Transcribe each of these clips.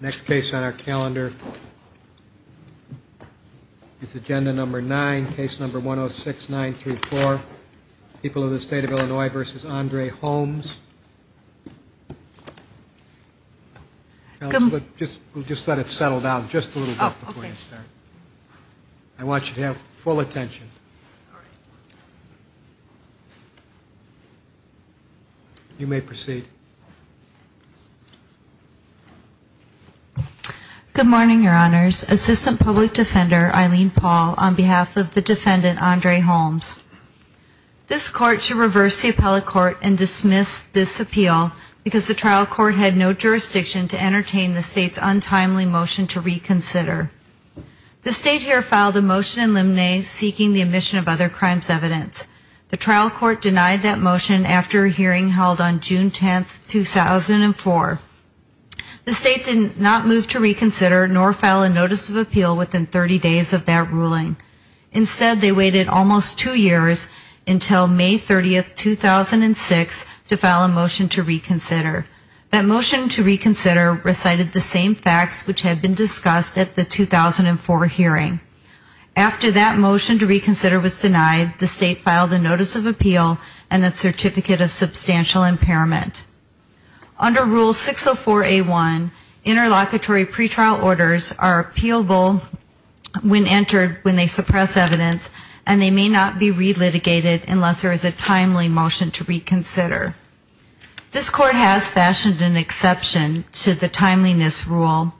next case on our calendar is agenda number nine case number 106 934 people of the state of Illinois versus Andre Holmes just we'll just let it settle down just a little I want you to have full attention you may proceed good morning your honors assistant public defender Eileen Paul on behalf of the defendant Andre Holmes this court should reverse the appellate court and dismiss this appeal because the trial court had no jurisdiction to entertain the state's untimely motion to reconsider the state here filed a motion in limine seeking the admission of other crimes evidence the trial court denied that motion after a hearing held on June 10th 2004 the state did not move to reconsider nor file a notice of appeal within 30 days of that ruling instead they waited almost two years until May 30th 2006 to file a motion to reconsider that motion to reconsider recited the same facts which had been discussed at the 2004 hearing after that motion to reconsider was denied the state filed a certificate of substantial impairment under rule 604 a1 interlocutory pretrial orders are appealable when entered when they suppress evidence and they may not be re-litigated unless there is a timely motion to reconsider this court has fashioned an exception to the timeliness rule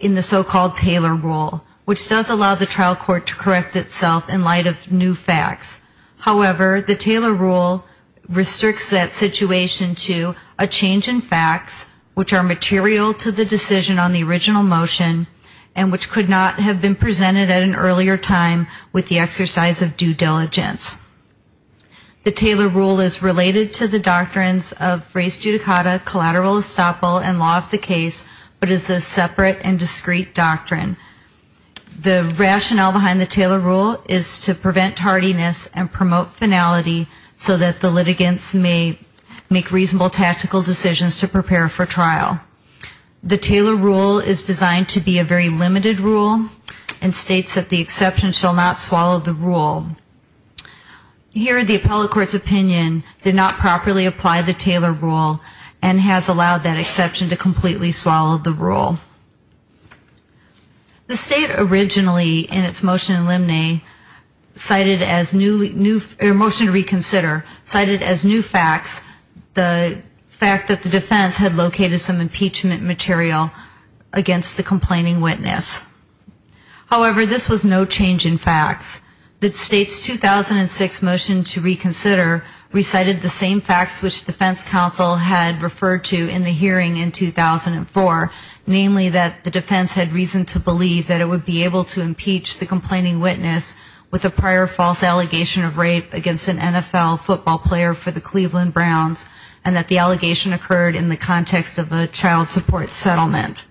in the so-called Taylor rule which does allow the trial court to correct itself in light of new facts however the Taylor rule restricts that situation to a change in facts which are material to the decision on the original motion and which could not have been presented at an earlier time with the exercise of due diligence the Taylor rule is related to the doctrines of res judicata collateral estoppel and law of the case but is a separate and discreet doctrine the rationale behind the Taylor rule is to prevent tardiness and promote finality so that the litigants may make reasonable tactical decisions to prepare for trial the Taylor rule is designed to be a very limited rule and states that the exception shall not swallow the rule here the appellate court's opinion did not properly apply the Taylor rule and has allowed that exception to completely swallow the rule the state originally in its motion in limine cited as new new motion to reconsider cited as new facts the fact that the defense had located some impeachment material against the complaining witness however this was no change in facts that states 2006 motion to reconsider recited the same facts which defense counsel had referred to in the hearing in 2004 namely that the defense had reason to believe that it would be able to impeach the complaining witness with a prior false allegation of rape against an NFL football player for the Cleveland Browns and that the allegation occurred in the context of a child support settlement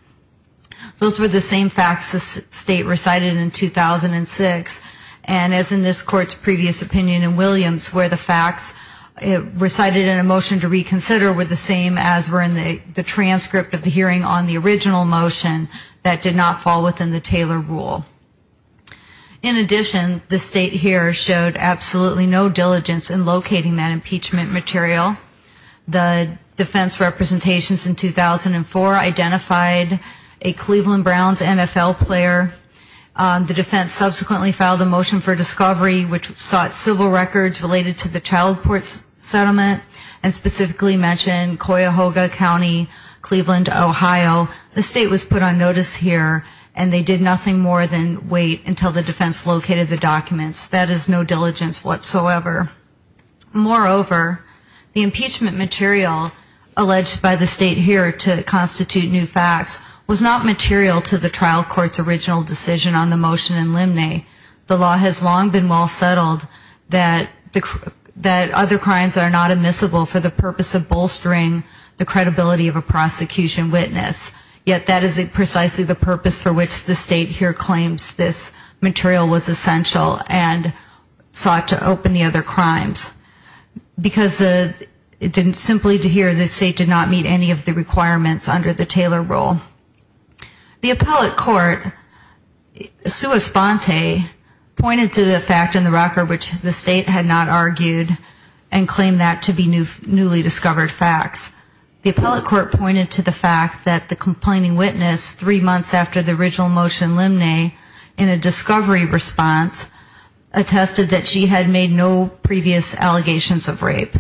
those were the same facts the state recited in 2006 and as in this court's previous opinion in Williams where the recited in a motion to reconsider were the same as were in the transcript of the hearing on the original motion that did not fall within the Taylor rule in addition the state here showed absolutely no diligence in locating that impeachment material the defense representations in 2004 identified a Cleveland Browns NFL player the defense subsequently filed a motion for and specifically mentioned Cuyahoga County Cleveland Ohio the state was put on notice here and they did nothing more than wait until the defense located the documents that is no diligence whatsoever moreover the impeachment material alleged by the state here to constitute new facts was not material to the trial courts original decision on the motion in limine the law has long been well settled that the that other crimes are not admissible for the purpose of bolstering the credibility of a prosecution witness yet that is it precisely the purpose for which the state here claims this material was essential and sought to open the other crimes because the it didn't simply to hear the state did not meet any of the requirements under the Taylor rule the appellate court sua sponte pointed to the fact in the rocker which the state had not argued and claimed that to be new newly discovered facts the appellate court pointed to the fact that the complaining witness three months after the original motion limine in a discovery response attested that she had made no previous allegations of rape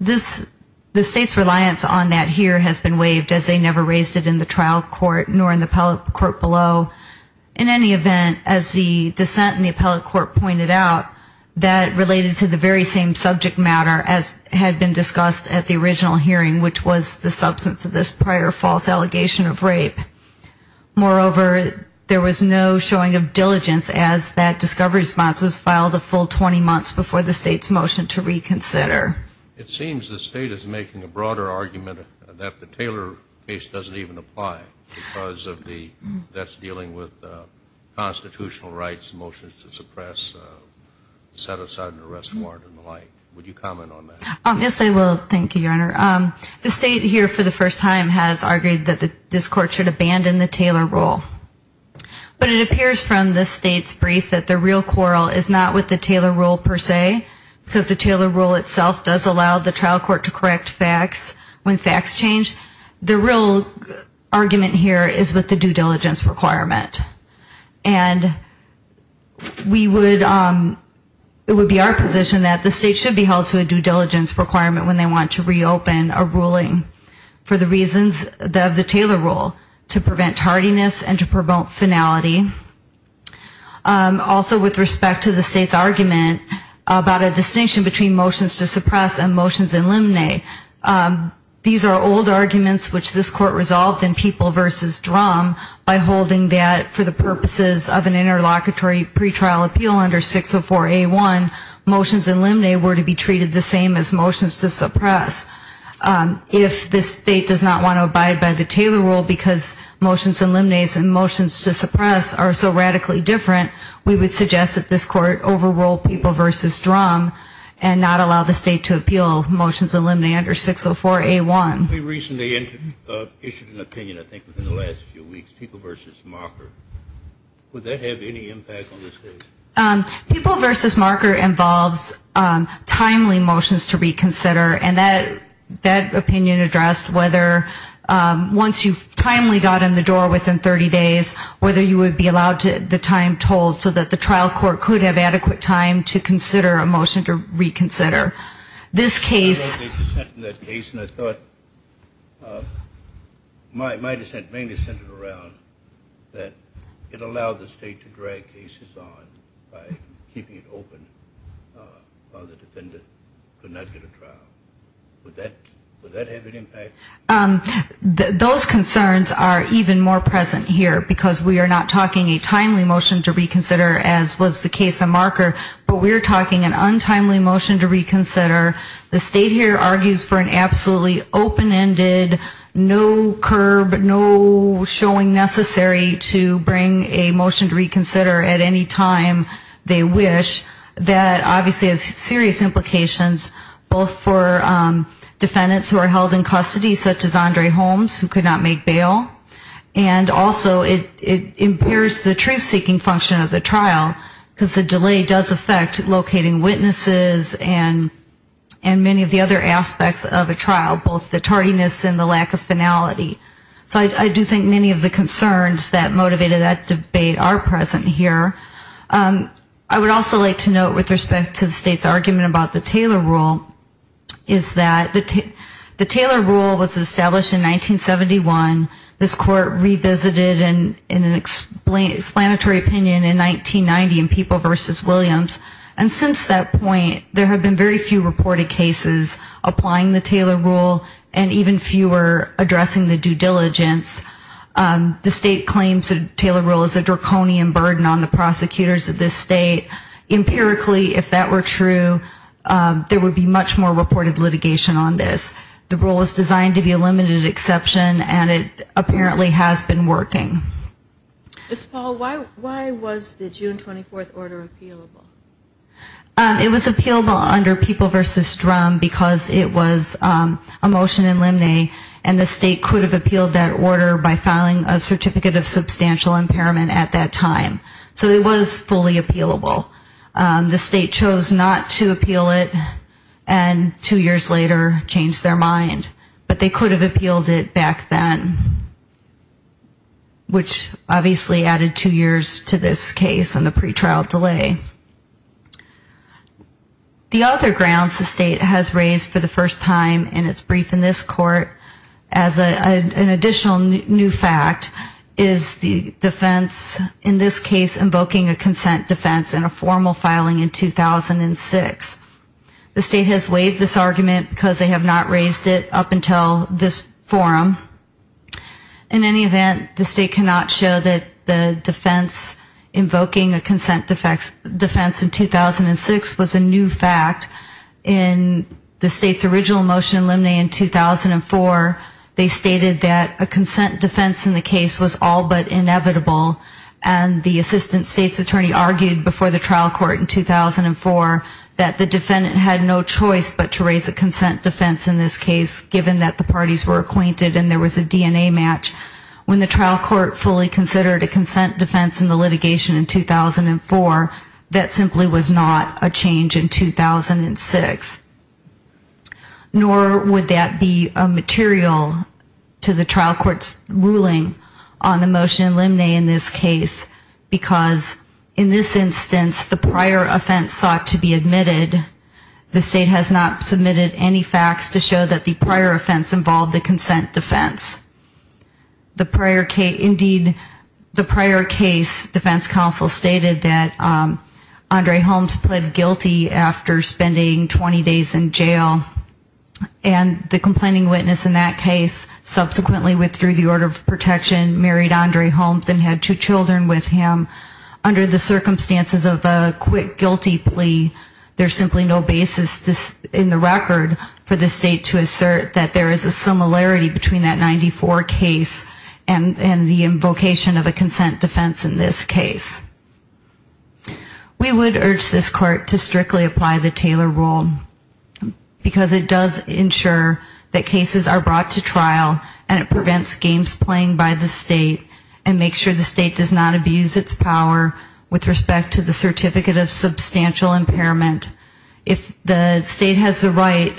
this the state's reliance on that here has been waived as they never raised it in the trial court nor in the appellate court below in any event as the dissent in the appellate court pointed out that related to the very same subject matter as had been discussed at the original hearing which was the substance of this prior false allegation of rape moreover there was no showing of diligence as that discovery response was filed a full 20 months before the state's motion to reconsider it seems the state is making a broader argument that the Taylor case doesn't even apply because of the that's dealing with constitutional rights motions to suppress set aside an arrest warrant and the like would you comment on this I will thank you your honor the state here for the first time has argued that the this court should abandon the Taylor rule but it appears from the state's brief that the real quarrel is not with the Taylor rule per se because the Taylor rule itself does allow the trial court to correct facts when facts change the real argument here is with the due diligence requirement and we would it would be our position that the state should be held to a due diligence requirement when they want to reopen a ruling for the reasons that the Taylor rule to prevent tardiness and to promote finality also with respect to the state's argument about a distinction between motions to suppress and motions in limine these are old arguments which this court resolved in people versus drum by holding that for the purposes of an interlocutory pretrial appeal under 604 a1 motions and limine were to be treated the same as motions to suppress if this state does not want to abide by the Taylor rule because motions and limines and motions to suppress are so radically different we would suggest that this court overruled people versus drum and not allow the state to appeal motions and limine under 604 a1 we recently entered issued an opinion I think within the last few weeks people versus marker would that have any impact on this case people versus marker involves timely motions to reconsider and that that opinion addressed whether once you've timely got in the door within 30 days whether you would be allowed to the time told so that the trial court could have adequate time to consider a motion to reconsider this case My dissent mainly centered around that it allowed the state to drag cases on by keeping it open while the defendant could not get a trial. Would that have any impact? Those concerns are even more present here because we are not talking a timely motion to reconsider as was the case of marker but we're talking an untimely motion to reconsider the state here argues for an absolutely open-ended no curb no showing necessary to bring a motion to reconsider at any time they wish that obviously has serious implications both for defendants who are held in custody such as Andre Holmes who could not make bail and also it impairs the truth-seeking function of the trial because the delay does affect locating witnesses and and many of the other aspects of a trial both the tardiness and the lack of finality so I do think many of the concerns that motivated that debate are present here I would also like to note with respect to the state's argument about the Taylor rule is that the Taylor rule was established in 1971 this court revisited and in an explanatory opinion in 1990 in people versus Williams and since that point there have been very few reported cases applying the Taylor rule and even fewer addressing the due diligence the state claims that Taylor rule is a draconian burden on the prosecutors of this state empirically if that were true there would be much more reported litigation on this the rule was designed to be a limited exception and it apparently has been working it was appealable under people versus drum because it was a motion in limine and the state could have appealed that order by filing a certificate of substantial impairment at that time so it was fully appeal it and two years later changed their mind but they could have appealed it back then which obviously added two years to this case and the pretrial delay the other grounds the state has raised for the first time in its brief in this court as an additional new fact is the defense in this case invoking a the state has waived this argument because they have not raised it up until this forum in any event the state cannot show that the defense invoking a consent defense in 2006 was a new fact in the state's original motion limine in 2004 they stated that a consent defense in the case was all but inevitable and the defendant had no choice but to raise a consent defense in this case given that the parties were acquainted and there was a DNA match when the trial court fully considered a consent defense in the litigation in 2004 that simply was not a change in 2006 nor would that be a material to the trial court's ruling on the motion limine in this case because in this instance the prior offense sought to be admitted the state has not submitted any facts to show that the prior offense involved the consent defense the prior case indeed the prior case defense counsel stated that Andre Holmes pled guilty after spending 20 days in jail and the complaining witness in that case subsequently withdrew the order of protection married Andre Holmes and had two children with him under the there's simply no basis in the record for the state to assert that there is a similarity between that 94 case and and the invocation of a consent defense in this case we would urge this court to strictly apply the Taylor rule because it does ensure that cases are brought to trial and it prevents games playing by the state and make sure the state does not abuse its power with respect to the substantial impairment if the state has the right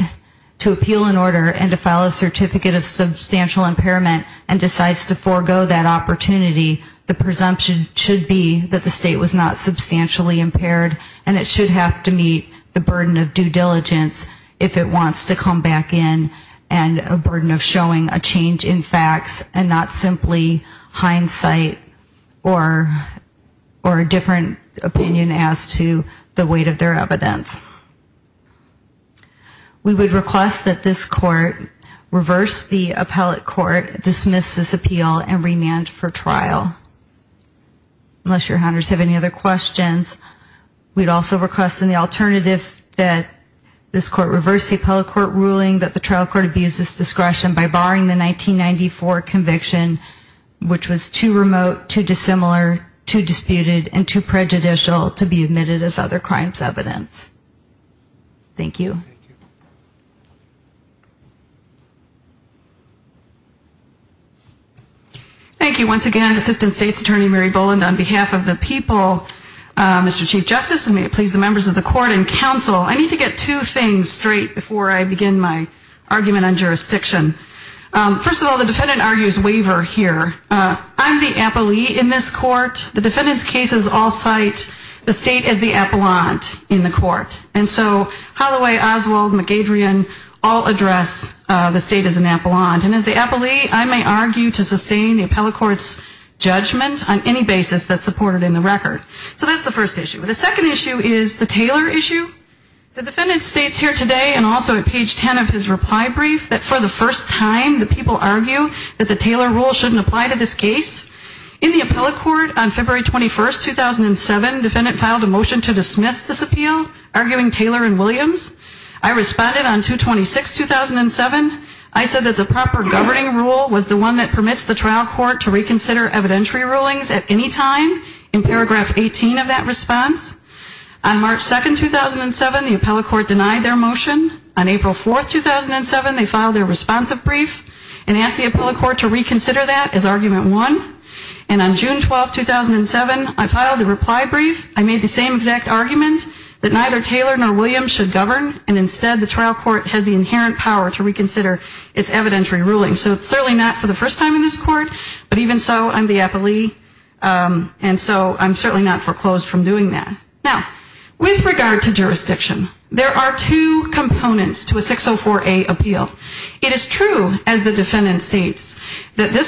to appeal an order and to file a certificate of substantial impairment and decides to forego that opportunity the presumption should be that the state was not substantially impaired and it should have to meet the burden of due diligence if it wants to come back in and a burden of showing a change in facts and not simply hindsight or or a different opinion as to the weight of their evidence we would request that this court reverse the appellate court dismiss this appeal and remand for trial unless your hunters have any other questions we'd also request in the alternative that this court reverse the appellate court ruling that the trial court abuses discretion by barring the 1994 conviction which was too remote too prejudicial to be admitted as other crimes evidence. Thank you. Thank you once again Assistant State's Attorney Mary Boland on behalf of the people Mr. Chief Justice and may it please the members of the court and counsel I need to get two things straight before I begin my argument on jurisdiction. First of all the defendant argues waiver here. I'm the appellee in this court the defendant's all cite the state as the appellant in the court and so Holloway, Oswald, McGadrian all address the state as an appellant and as the appellee I may argue to sustain the appellate courts judgment on any basis that's supported in the record. So that's the first issue. The second issue is the Taylor issue. The defendant states here today and also at page 10 of his reply brief that for the first time the people argue that the Taylor rule shouldn't apply to this case. In the appellate court on February 21st 2007 defendant filed a motion to dismiss this appeal arguing Taylor and Williams. I responded on 226 2007 I said that the proper governing rule was the one that permits the trial court to reconsider evidentiary rulings at any time in paragraph 18 of that response. On March 2nd 2007 the appellate court denied their motion. On April 4th 2007 they filed their responsive brief and asked the appellate court to reconsider that as argument one and on June 12 2007 I filed a reply brief I made the same exact argument that neither Taylor nor Williams should govern and instead the trial court has the inherent power to reconsider its evidentiary ruling. So it's certainly not for the first time in this court but even so I'm the appellee and so I'm certainly not foreclosed from doing that. Now with regard to jurisdiction there are two components to a 604 a appeal. It is true as the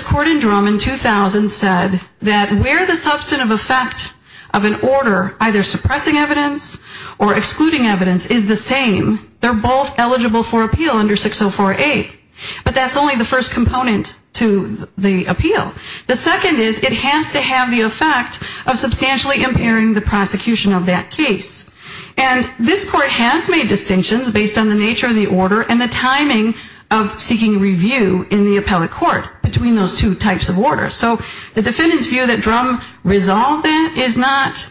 court in drum in 2000 said that where the substantive effect of an order either suppressing evidence or excluding evidence is the same they're both eligible for appeal under 604 a but that's only the first component to the appeal. The second is it has to have the effect of substantially impairing the prosecution of that case and this court has made distinctions based on the nature of the order and the timing of seeking review in the appellate court between those two types of orders. So the defendants view that drum resolved that is not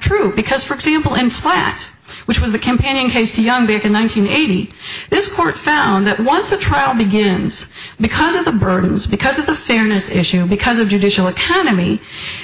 true because for example in flat which was the companion case to Young back in 1980 this court found that once a trial begins because of the burdens because of the fairness issue because of judicial economy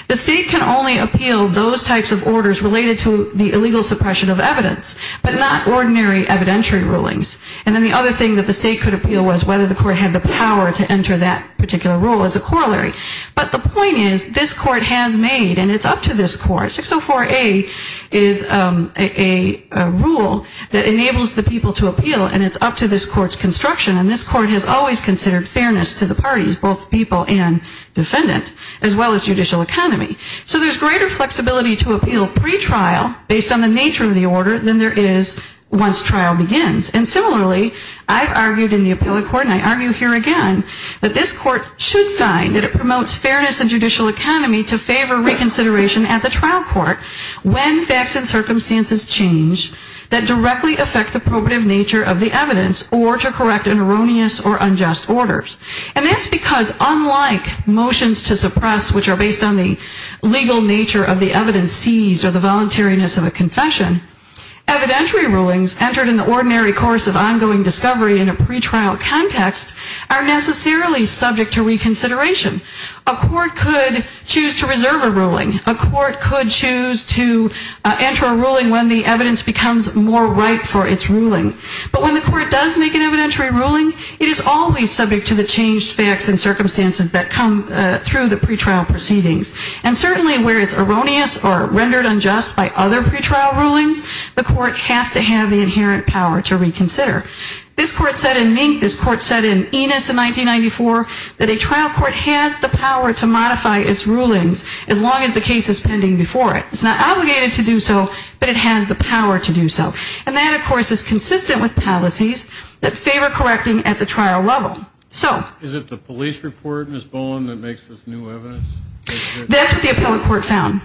the state can only appeal those types of orders related to the illegal suppression of evidence but not ordinary evidentiary rulings and then the other thing that the state could appeal was whether the court had the power to enter that particular rule as a corollary but the point is this court has made and it's up to this court 604 a is a rule that enables the people to appeal and it's up to this court's construction and this court has always considered fairness to the parties both people and defendant as well as judicial economy. So there's greater flexibility to appeal pretrial based on the nature of the order than there is once trial begins and similarly I've argued in the appellate court and I argue here again that this court should find that it promotes fairness and judicial economy to favor reconsideration at the trial court when facts and circumstances change that directly affect the probative nature of the evidence or to correct an erroneous or unjust orders and that's because unlike motions to suppress which are based on the legal nature of the evidence, evidentiary rulings entered in the ordinary course of ongoing discovery in a pretrial context are necessarily subject to reconsideration. A court could choose to reserve a ruling. A court could choose to enter a ruling when the evidence becomes more ripe for its ruling. But when the court does make an evidentiary ruling, it is always subject to the changed facts and circumstances that come through the pretrial proceedings and certainly where it's erroneous or rendered unjust by other pretrial rulings, the court has to have the inherent power to reconsider. This court said in Mink, this court said in Enos in 1994 that a trial court has the power to modify its rulings as long as the case is pending before it. It's not obligated to do so but it has the power to do so and that of course is consistent with policies that favor correcting at the trial level. So is it the police report Ms. Bowen that makes this new evidence? That's what the appellate court found.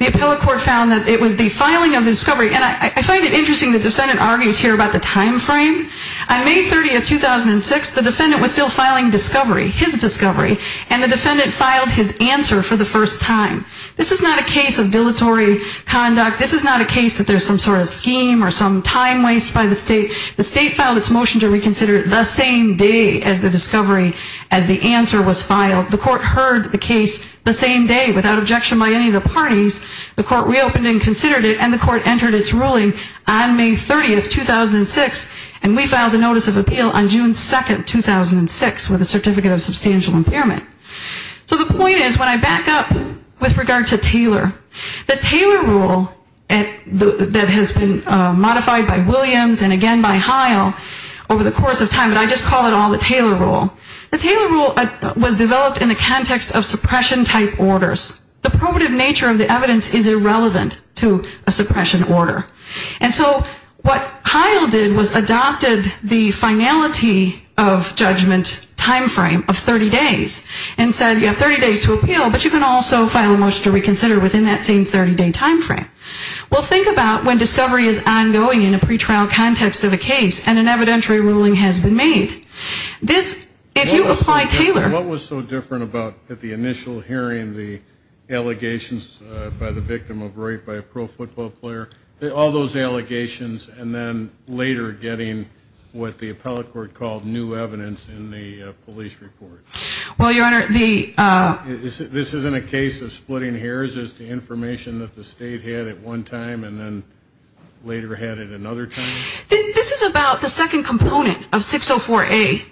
The appellate court found that it was the filing of the discovery and I find it interesting the defendant argues here about the time frame. On May 30th, 2006, the defendant was still filing discovery, his discovery, and the defendant filed his answer for the first time. This is not a case of dilatory conduct. This is not a case that there's some sort of scheme or some time waste by the state. The state filed its motion to reconsider the same day as the discovery, as the answer was filed. The defendant heard the case the same day without objection by any of the parties. The court reopened and considered it and the court entered its ruling on May 30th, 2006 and we filed a notice of appeal on June 2nd, 2006 with a certificate of substantial impairment. So the point is when I back up with regard to Taylor, the Taylor rule that has been modified by Williams and again by Heil over the course of time, but I just call it all the Taylor rule, the Taylor rule was developed in the context of suppression type orders. The probative nature of the evidence is irrelevant to a suppression order. And so what Heil did was adopted the finality of judgment time frame of 30 days and said you have 30 days to appeal, but you can also file a motion to reconsider within that same 30 day time frame. Well, think about when discovery is ongoing in a pretrial context of a case and an evidentiary ruling has been made. This, if you apply Taylor what was so different about the initial hearing, the allegations by the victim of rape by a pro football player, all those allegations, and then later getting what the appellate court called new evidence in the police report? Well, your honor, the... This isn't a case of splitting hairs, is the information that the state had at one time and then later had it another time? This is about the second component of 604A.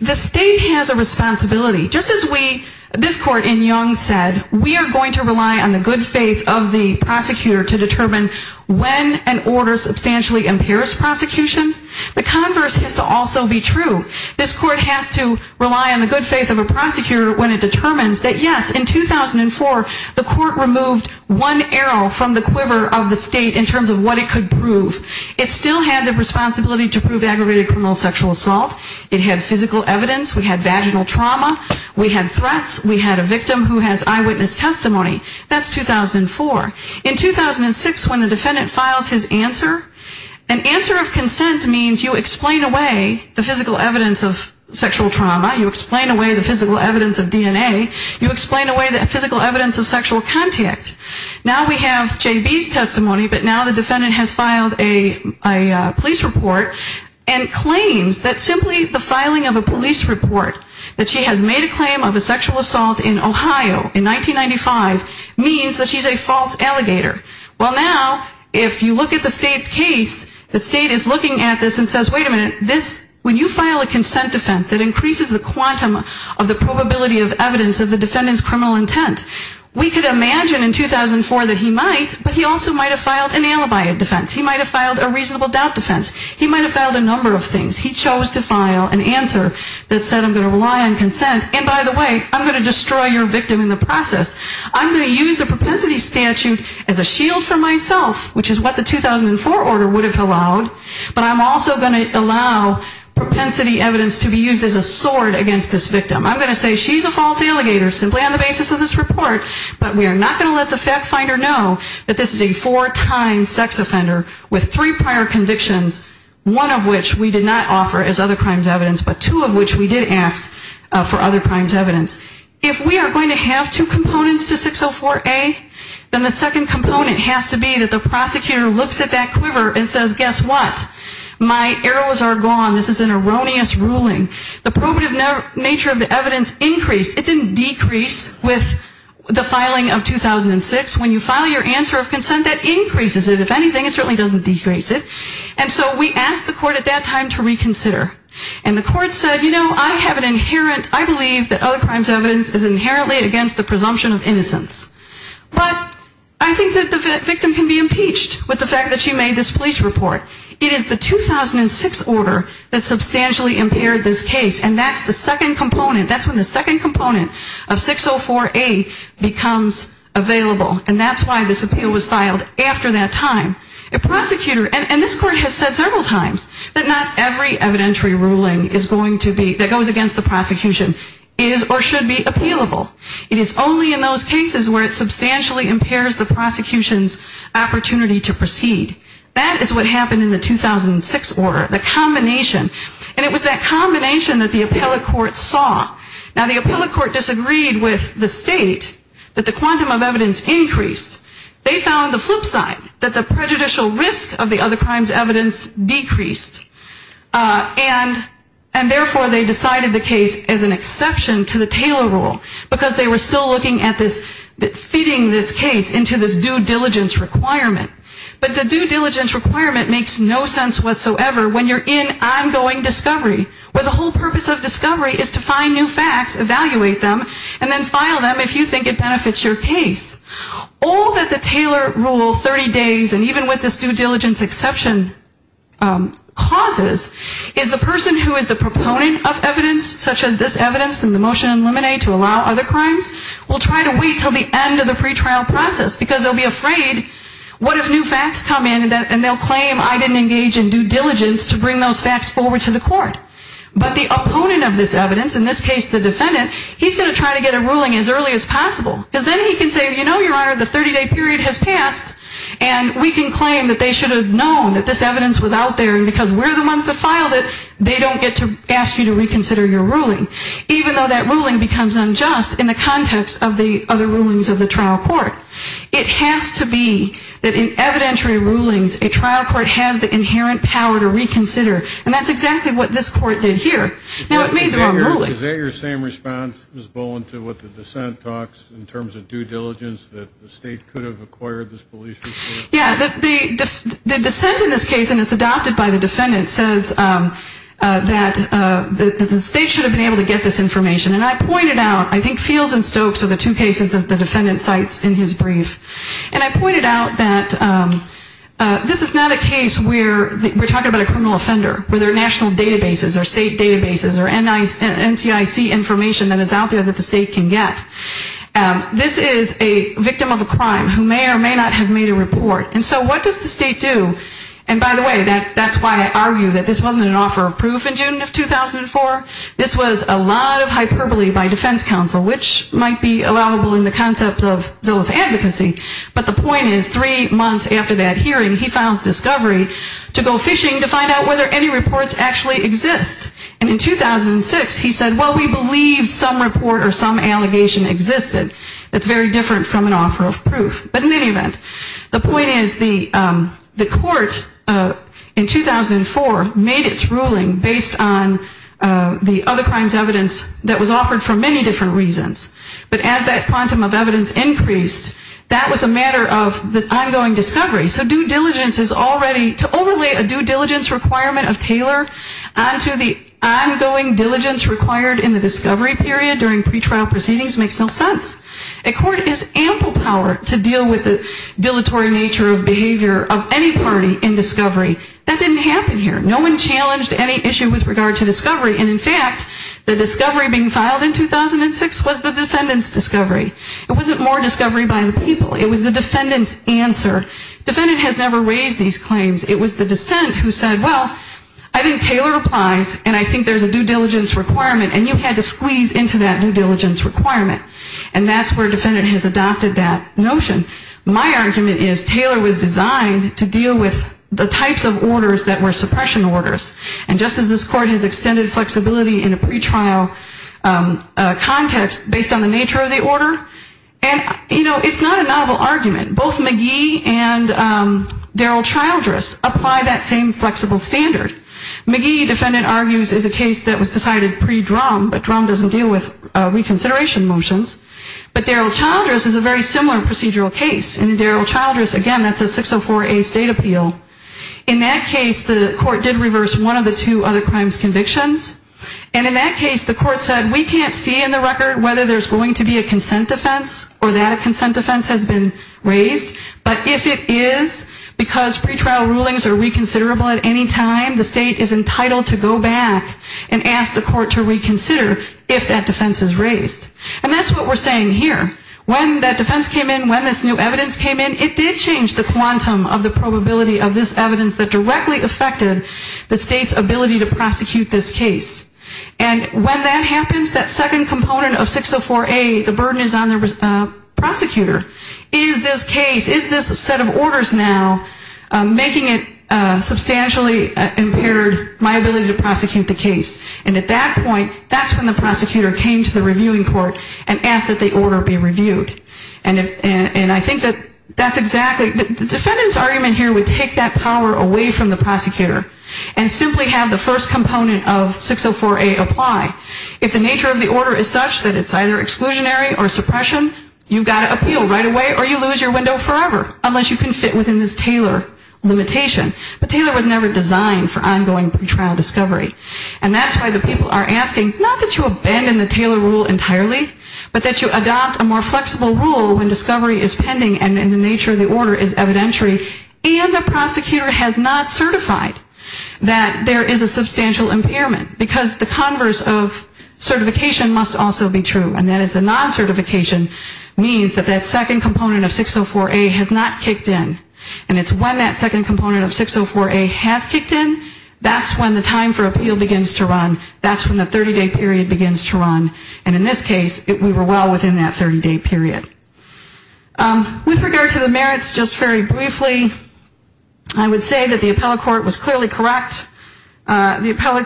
The state has a responsibility, just as we, this court in Young said, we are going to rely on the good faith of the prosecutor to determine when an order substantially impairs prosecution, the converse has to also be true. This court has to rely on the good faith of a prosecutor when it determines that yes, in 2004, the court removed one arrow from the quiver of the state in terms of what it could prove. It still had the responsibility to prove aggravated criminal sexual assault. It had physical evidence. We had vaginal trauma. We had threats. We had a victim who has eyewitness testimony. That's 2004. In 2006, when the defendant files his answer, an answer of consent means you explain away the physical evidence of sexual trauma. You explain away the physical evidence of DNA. You explain away the physical evidence of sexual contact. Now we have J.B.'s testimony, but now the defendant has filed a police report and claims that simply the filing of a police report that she has made a claim of a sexual assault in Ohio in 1995 means that she's a false allegator. Well, now if you look at the state's case, the state is looking at this and says, wait a minute, this, when you file a consent defense that increases the quantum of the probability of evidence of the defendant's criminal intent, we could imagine in 2004 that he might, but he also might have filed an alibi defense. He might have filed a reasonable doubt defense. He might have filed a number of things. He chose to file an answer that said I'm going to rely on consent, and by the way, I'm going to destroy your victim in the process. I'm going to use the propensity statute as a shield for myself, which is what the 2004 order would have allowed, but I'm also going to allow propensity evidence to be used as a sword against this victim. I'm going to say she's a false allegator simply on the basis of this report, but we are not going to let the defendant be a sex offender with three prior convictions, one of which we did not offer as other crimes evidence, but two of which we did ask for other crimes evidence. If we are going to have two components to 604A, then the second component has to be that the prosecutor looks at that quiver and says, guess what? My arrows are gone. This is an erroneous ruling. The probative nature of the evidence increased. It didn't decrease with the filing of 2006. When you file your answer of consent, that increases it. If anything, it certainly doesn't decrease it, and so we asked the court at that time to reconsider, and the court said, you know, I have an inherent, I believe that other crimes evidence is inherently against the presumption of innocence, but I think that the victim can be impeached with the fact that she made this police report. It is the 2006 order that substantially impaired this case, and that's the second component. That's when the second component of 604A becomes available, and that's why this appeal was filed after that time. A prosecutor, and this court has said several times that not every evidentiary ruling is going to be, that goes against the prosecution, is or should be appealable. It is only in those cases where it substantially impairs the prosecution's opportunity to proceed. That is what happened in the 2006 order, the combination, and it was that combination that the appellate court disagreed with the state that the quantum of evidence increased. They found the flip side, that the prejudicial risk of the other crimes evidence decreased, and therefore they decided the case as an exception to the Taylor rule, because they were still looking at this, fitting this case into this due diligence requirement, but the due diligence requirement makes no sense whatsoever when you're in ongoing discovery, where the whole purpose of discovery is to find new facts, evaluate them, and then file them if you think it benefits your case. All that the Taylor rule, 30 days, and even with this due diligence exception causes, is the person who is the proponent of evidence, such as this evidence in the motion in Lemonade to allow other crimes, will try to wait until the end of the pretrial process, because they'll be afraid, what if new facts come in, and they'll claim I didn't engage in due diligence to bring those facts forward to the court? But the opponent of this evidence, in this case the defendant, he's going to try to get a ruling as early as possible, because then he can say, you know, Your Honor, the 30-day period has passed, and we can claim that they should have known that this evidence was out there, and because we're the ones that filed it, they don't get to ask you to reconsider your ruling, even though that ruling becomes unjust in the context of the other rulings of the trial court. It has to be that in evidentiary rulings, a trial court has the inherent power to reconsider, and that's exactly what this court did here. Now it made the wrong ruling. Is that your same response, Ms. Bowen, to what the dissent talks, in terms of due diligence, that the state could have acquired this police report? Yeah, the dissent in this case, and it's adopted by the defendant, says that the state should have been able to get this information, and I pointed out, I think Fields and Stokes are the two cases that the defendant cites in his brief, and I mean, we're talking about a criminal offender, whether national databases or state databases or NCIC information that is out there that the state can get. This is a victim of a crime who may or may not have made a report, and so what does the state do? And by the way, that's why I argue that this wasn't an offer of proof in June of 2004. This was a lot of hyperbole by defense counsel, which might be allowable in the concept of zealous advocacy, but the point is, three months after that hearing, he files discovery to go fishing to find out whether any reports actually exist, and in 2006, he said, well, we believe some report or some allegation existed. That's very different from an offer of proof, but in any event, the point is, the court in 2004 made its ruling based on the other crimes evidence that was offered for many different reasons, but as that quantum of evidence increased, that was a matter of the ongoing discovery, so due diligence is already, to overlay a due diligence requirement of Taylor onto the ongoing diligence required in the discovery period during pretrial proceedings makes no sense. A court is ample power to deal with the dilatory nature of behavior of any party in discovery. That didn't happen here. No one challenged any issue with regard to discovery, and in fact, the discovery being filed in 2006 was the defendant's discovery. It wasn't more discovery by the people. It was the defendant's answer. Defendant has never raised these claims. It was the dissent who said, well, I think Taylor applies, and I think there's a due diligence requirement, and you had to squeeze into that due diligence requirement, and that's where defendant has adopted that notion. My argument is Taylor was designed to deal with the types of orders that were suppression orders, and just as this court has extended flexibility in a pretrial context based on the nature of the order, and, you know, it's not a novel argument. Both McGee and Daryl Childress apply that same flexible standard. McGee, defendant argues, is a case that was decided pre-Drum, but Drum doesn't deal with reconsideration motions, but Daryl Childress is a very similar procedural case, and in Daryl Childress, again, that's a 604A state appeal. In that case, the court did reverse one of the two other crimes' convictions, and in that case, the court said we can't see in the record whether there's going to be a consent defense or that a consent defense has been raised, but if it is, because pretrial rulings are reconsiderable at any time, the state is entitled to go back and ask the court to reconsider if that defense is raised, and that's what we're saying here. When that defense came in, when this new evidence came in, it did change the quantum of the probability of this case. And when that happens, that second component of 604A, the burden is on the prosecutor. Is this case, is this set of orders now making it substantially impaired my ability to prosecute the case? And at that point, that's when the prosecutor came to the reviewing court and asked that the order be reviewed. And I think that that's exactly, the defendant's argument here would take that power away from the prosecutor and simply have the first component of 604A apply. If the nature of the order is such that it's either exclusionary or suppression, you've got to appeal right away or you lose your window forever, unless you can fit within this Taylor limitation. But Taylor was never designed for ongoing pretrial discovery. And that's why the people are asking, not that you abandon the Taylor rule entirely, but that you adopt a more flexible rule when discovery is pending and the nature of the order is evidentiary, and the prosecutor has not certified that there is a substantial impairment, because the converse of certification must also be true, and that is the non-certification means that that second component of 604A has not kicked in. And it's when that second component of 604A has kicked in, that's when the time for appeal begins to run. That's when the 30-day period begins to run. And in this case, we were well within that 30-day period. With regard to the merits, just very briefly, I would say that the appellate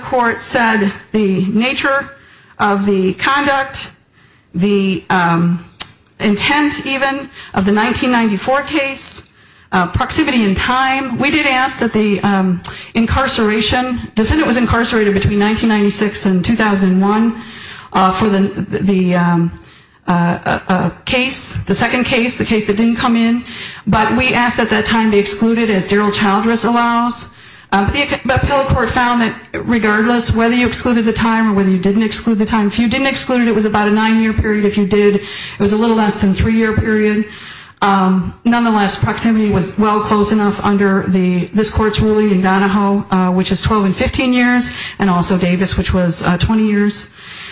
court said the nature of the conduct, the intent even of the 1994 case, proximity in time. We did ask that the incarceration, the defendant was incarcerated between 1996 and 2001 for the case, the second case, the case that didn't come in. But we asked at that time to exclude it as derailed child service allows. The appellate court found that regardless whether you excluded the time or whether you didn't exclude the time, if you didn't exclude it, it was about a nine-year period. If you did, it was a little less than a three-year period. Nonetheless, proximity was well close enough under this court's ruling in Donahoe, which is 12 and 15 years, and also Davis, which was 20 years.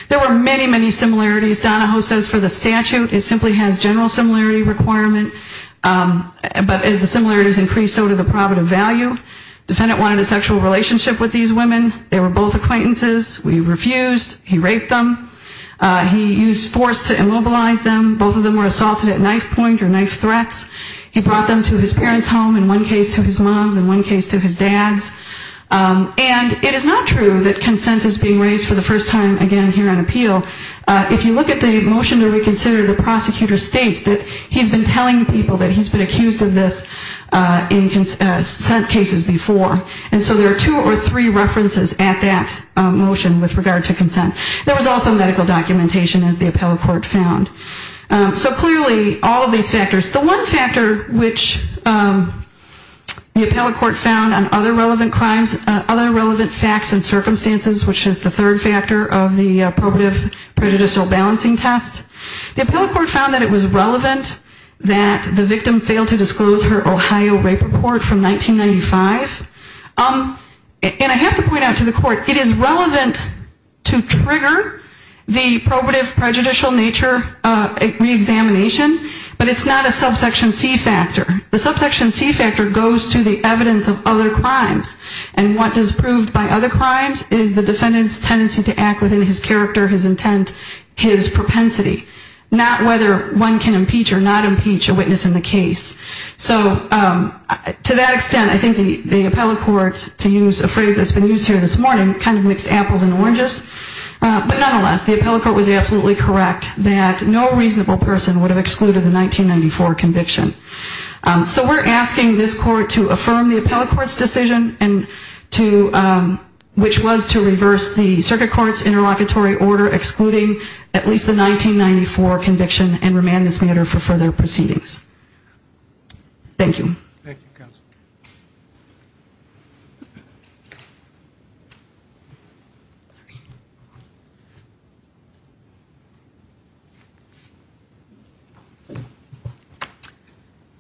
There were many, many similarities. Donahoe says for the statute, it simply has general similarity requirement. But as the similarities increased, so did the prerogative value. Defendant wanted a sexual relationship with these women. They were both acquaintances. We refused. He raped them. He used force to immobilize them. Both of them were assaulted at knife point or knife threats. He brought them to his parents' home, in one case to his mom's, in one case to his dad's. And it is not true that consent is being raised for the first time again here on appeal. If you look at the motion to reconsider, the prosecutor states that he's been telling people that he's been accused of this in consent cases before. And so there are two or three references at that motion with regard to consent. There was also medical documentation, as the appellate court found. So clearly, all of these factors. The one factor which the appellate court found on other relevant crimes, other relevant facts and circumstances, which is the third factor of the appropriate prejudicial balancing test, the appellate court found that it was her Ohio rape report from 1995. And I have to point out to the court, it is relevant to trigger the probative prejudicial nature reexamination, but it's not a subsection C factor. The subsection C factor goes to the evidence of other crimes. And what is proved by other crimes is the defendant's tendency to act within his character, his intent, his propensity. Not whether one can impeach or not impeach a witness in the case. So to that extent, I think the appellate court, to use a phrase that's been used here this morning, kind of mixed apples and oranges. But nonetheless, the appellate court was absolutely correct that no reasonable person would have excluded the 1994 conviction. So we're asking this court to affirm the appellate court's decision, which was to reverse the circuit court's decision and remand this matter for further proceedings. Thank you. Thank you, counsel.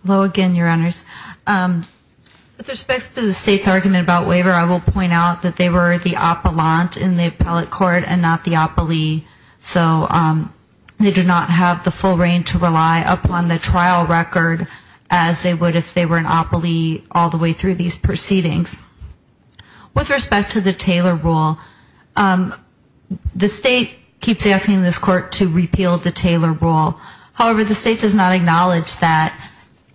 Hello again, your honors. With respect to the state's argument about waiver, I will point out that they were the appellant in the appellate court and not the appellee. So they did not have the full reign to rely upon the trial record as they would if they were an appellee all the way through these proceedings. With respect to the Taylor rule, the state keeps asking this court to repeal the Taylor rule. However, the state does not acknowledge that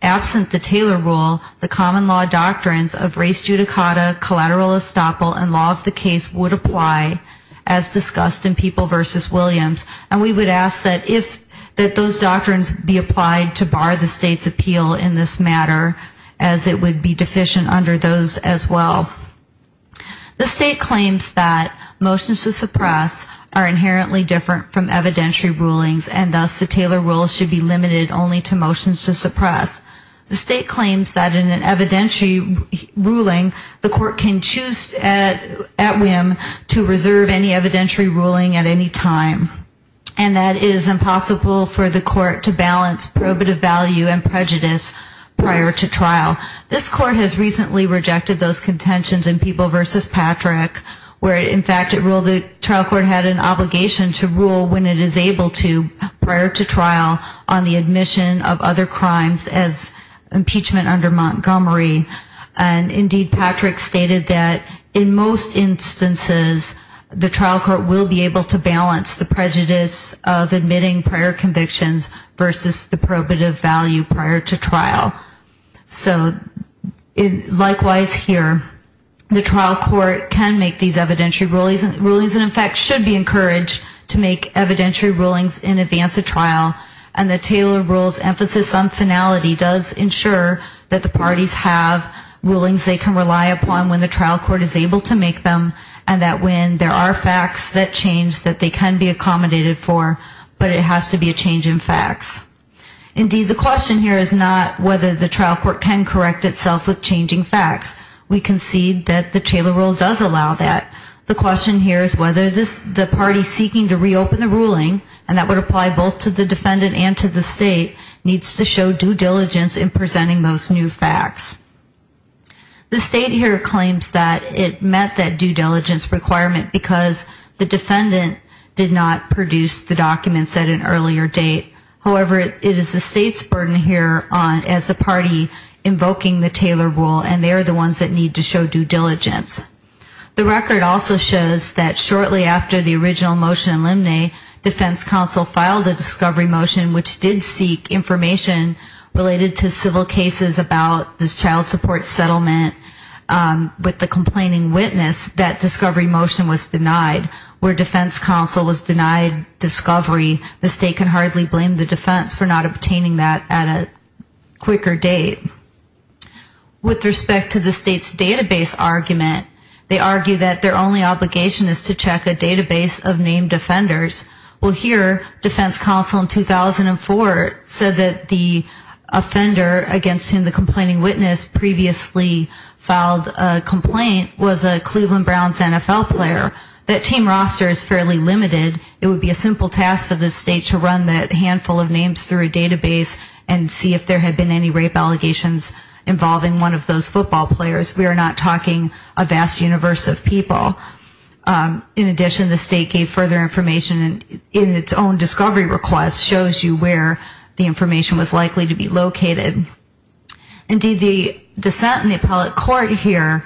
absent the Taylor rule, the common law doctrines of race judicata, collateral estoppel and law of the case would apply as discussed in People v. Williams. And we would ask that if that those doctrines be applied to bar the state's appeal in this matter, as it would be deficient under those as well. The state claims that motions to suppress are inherently different from evidentiary rulings, and thus the Taylor rule should be limited only to motions to suppress. The state claims that in an evidentiary ruling, the court can choose at whim to suppress an evidentiary ruling at any time, and that it is impossible for the court to balance probative value and prejudice prior to trial. This court has recently rejected those contentions in People v. Patrick, where in fact it ruled the trial court had an obligation to rule when it is able to prior to trial on the admission of other crimes as impeachment under Montgomery. And indeed, Patrick stated that in most instances the trial court will be able to balance the prejudice of admitting prior convictions versus the probative value prior to trial. So likewise here, the trial court can make these evidentiary rulings and in fact should be encouraged to make evidentiary rulings in advance of trial, and the Taylor rule's emphasis on finality does ensure that the parties have rulings they can rely upon when the trial court is able to make them, and that when there are facts that change that they can be accommodated for, but it has to be a change in facts. Indeed, the question here is not whether the trial court can correct itself with changing facts. We concede that the Taylor rule does allow that. The question here is whether the party seeking to reopen the ruling, and that would apply both to the defendant and to the state, needs to show due diligence in presenting those new facts. The state here claims that it met that due diligence requirement because the defendant did not produce the documents at an earlier date. However, it is the state's burden here as the party invoking the Taylor rule, and they are the ones that need to show due diligence. The record also shows that shortly after the original motion in Limney, defense counsel filed a discovery motion which did seek information related to civil cases about this child support settlement with the complaining witness, that discovery motion was denied. Where defense counsel was denied discovery, the state can hardly blame the defense for not obtaining that at a quicker date. With respect to the state's database argument, they argue that their only obligation is to check a database of named offenders. Well, here, defense counsel in 2004 said that the offender against whom the complaining witness previously filed a complaint was a Cleveland Browns NFL player. That team roster is fairly limited. It would be a simple task for the state to run that handful of names through a database and see if there had been any rape allegations involving one of those football players. We are not talking a vast universe of people. In addition, the state gave further information in its own discovery request, shows you where the information was likely to be located. Indeed, the dissent in the appellate court here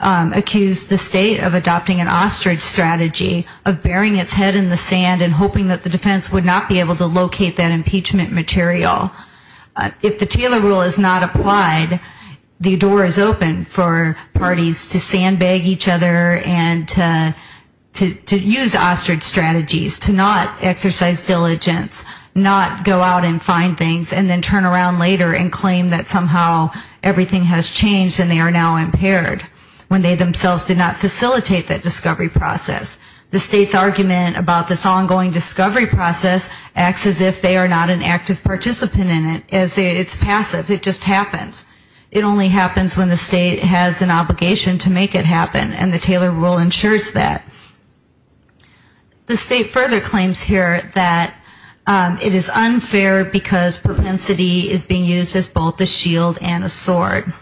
accused the state of adopting an ostrich strategy, of burying its head in the sand and hoping that the defense would not be able to locate that impeachment material. If the Taylor rule is not applied, the door is open for parties to sandbag each other and to use ostrich strategies, to not exercise diligence, not go out and find things and then turn around later and claim that somehow everything has changed and they are now impaired when they themselves did not facilitate that discovery process. The state's argument about this ongoing discovery process acts as if they are not an active participant in it. It's passive. It just happens. It only happens when the state has an obligation to make it happen, and the Taylor rule ensures that. The state further claims here that it is unfair because propensity is being used as both a shield and a sword.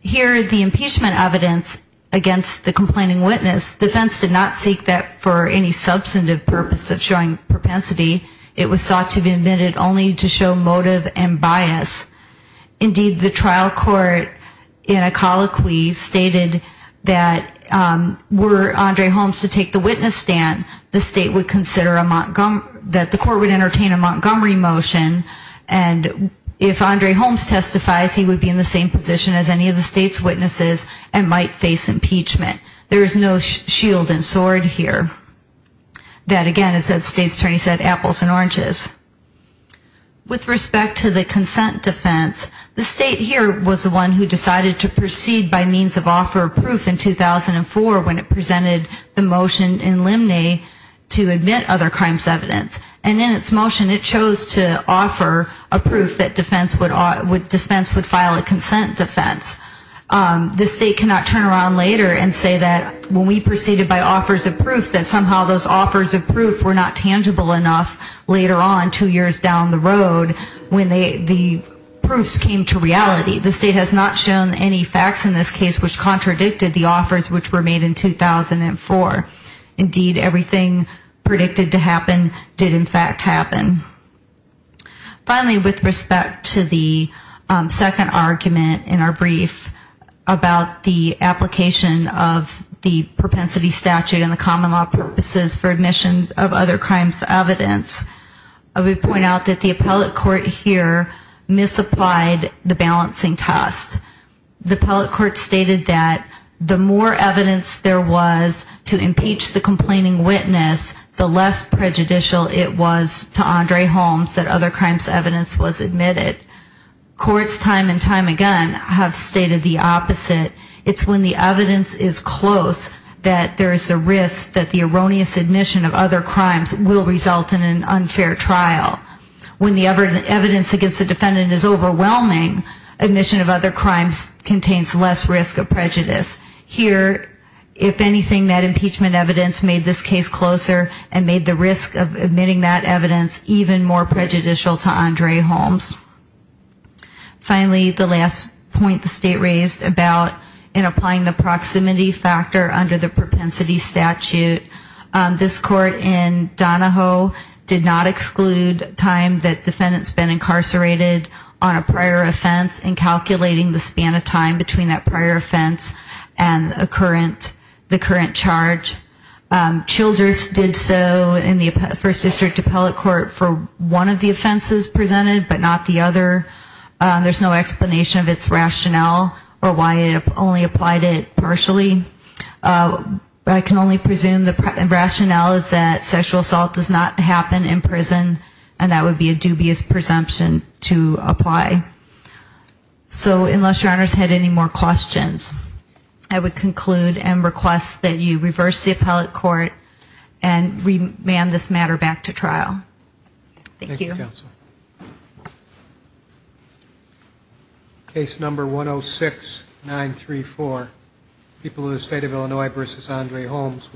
Here, the impeachment evidence against the complaining witness, defense did not seek that for any substantive purpose of showing propensity. It was sought to be invented only to show motive and bias. Indeed, the trial court in a colloquy stated that were Andre Holmes to take the witness stand, the state would consider a Montgomery, that the court would entertain a Montgomery motion, and if Andre Holmes testifies, he would be in the same position as any of the state's witnesses and might face impeachment. There is no shield and sword here. That again, as the state would file a consent defense, the state here was the one who decided to proceed by means of offer of proof in 2004 when it presented the motion in Limney to admit other crimes evidence. And in its motion, it chose to offer a proof that defense would dispense would file a consent defense. The state cannot turn around later and say that when we proceeded by offers of proof that somehow those offers of proof were not tangible enough later on two years down the road when the proofs came to reality. The state has not shown any facts in this case which contradicted the offers which were made in 2004. Indeed, everything predicted to happen did in fact happen. Finally, with respect to the second argument in our brief about the application of the propensity statute and the common law purposes for the appellate court here misapplied the balancing test. The appellate court stated that the more evidence there was to impeach the complaining witness, the less prejudicial it was to Andre Holmes that other crimes evidence was admitted. Courts time and time again have stated the opposite. It's when the evidence is close that there is a risk that the erroneous admission of other crimes will result in an unfair trial. When the evidence against the defendant is overwhelming, admission of other crimes contains less risk of prejudice. Here, if anything, that impeachment evidence made this case closer and made the risk of admitting that evidence even more prejudicial to Andre Holmes. Finally, the last point the state raised about in applying the proximity factor under the propensity statute. This court in Donahoe did not exclude time that defendants been incarcerated on a prior offense in calculating the span of time between that prior offense and the current charge. Childers did so in the first district appellate court for one of the offenses presented but not the other. There's no explanation of its rationale or why it only applied it partially. I can only presume the rationale is that sexual assault does not happen in prison and that would be a dubious presumption to apply. So unless your honors had any more questions, I would conclude and request that you reverse the appellate court and remand this matter back to trial. Thank you. Thank you, Mr. Counsel. Case number 106934, People of the State of Illinois v. Andre Holmes.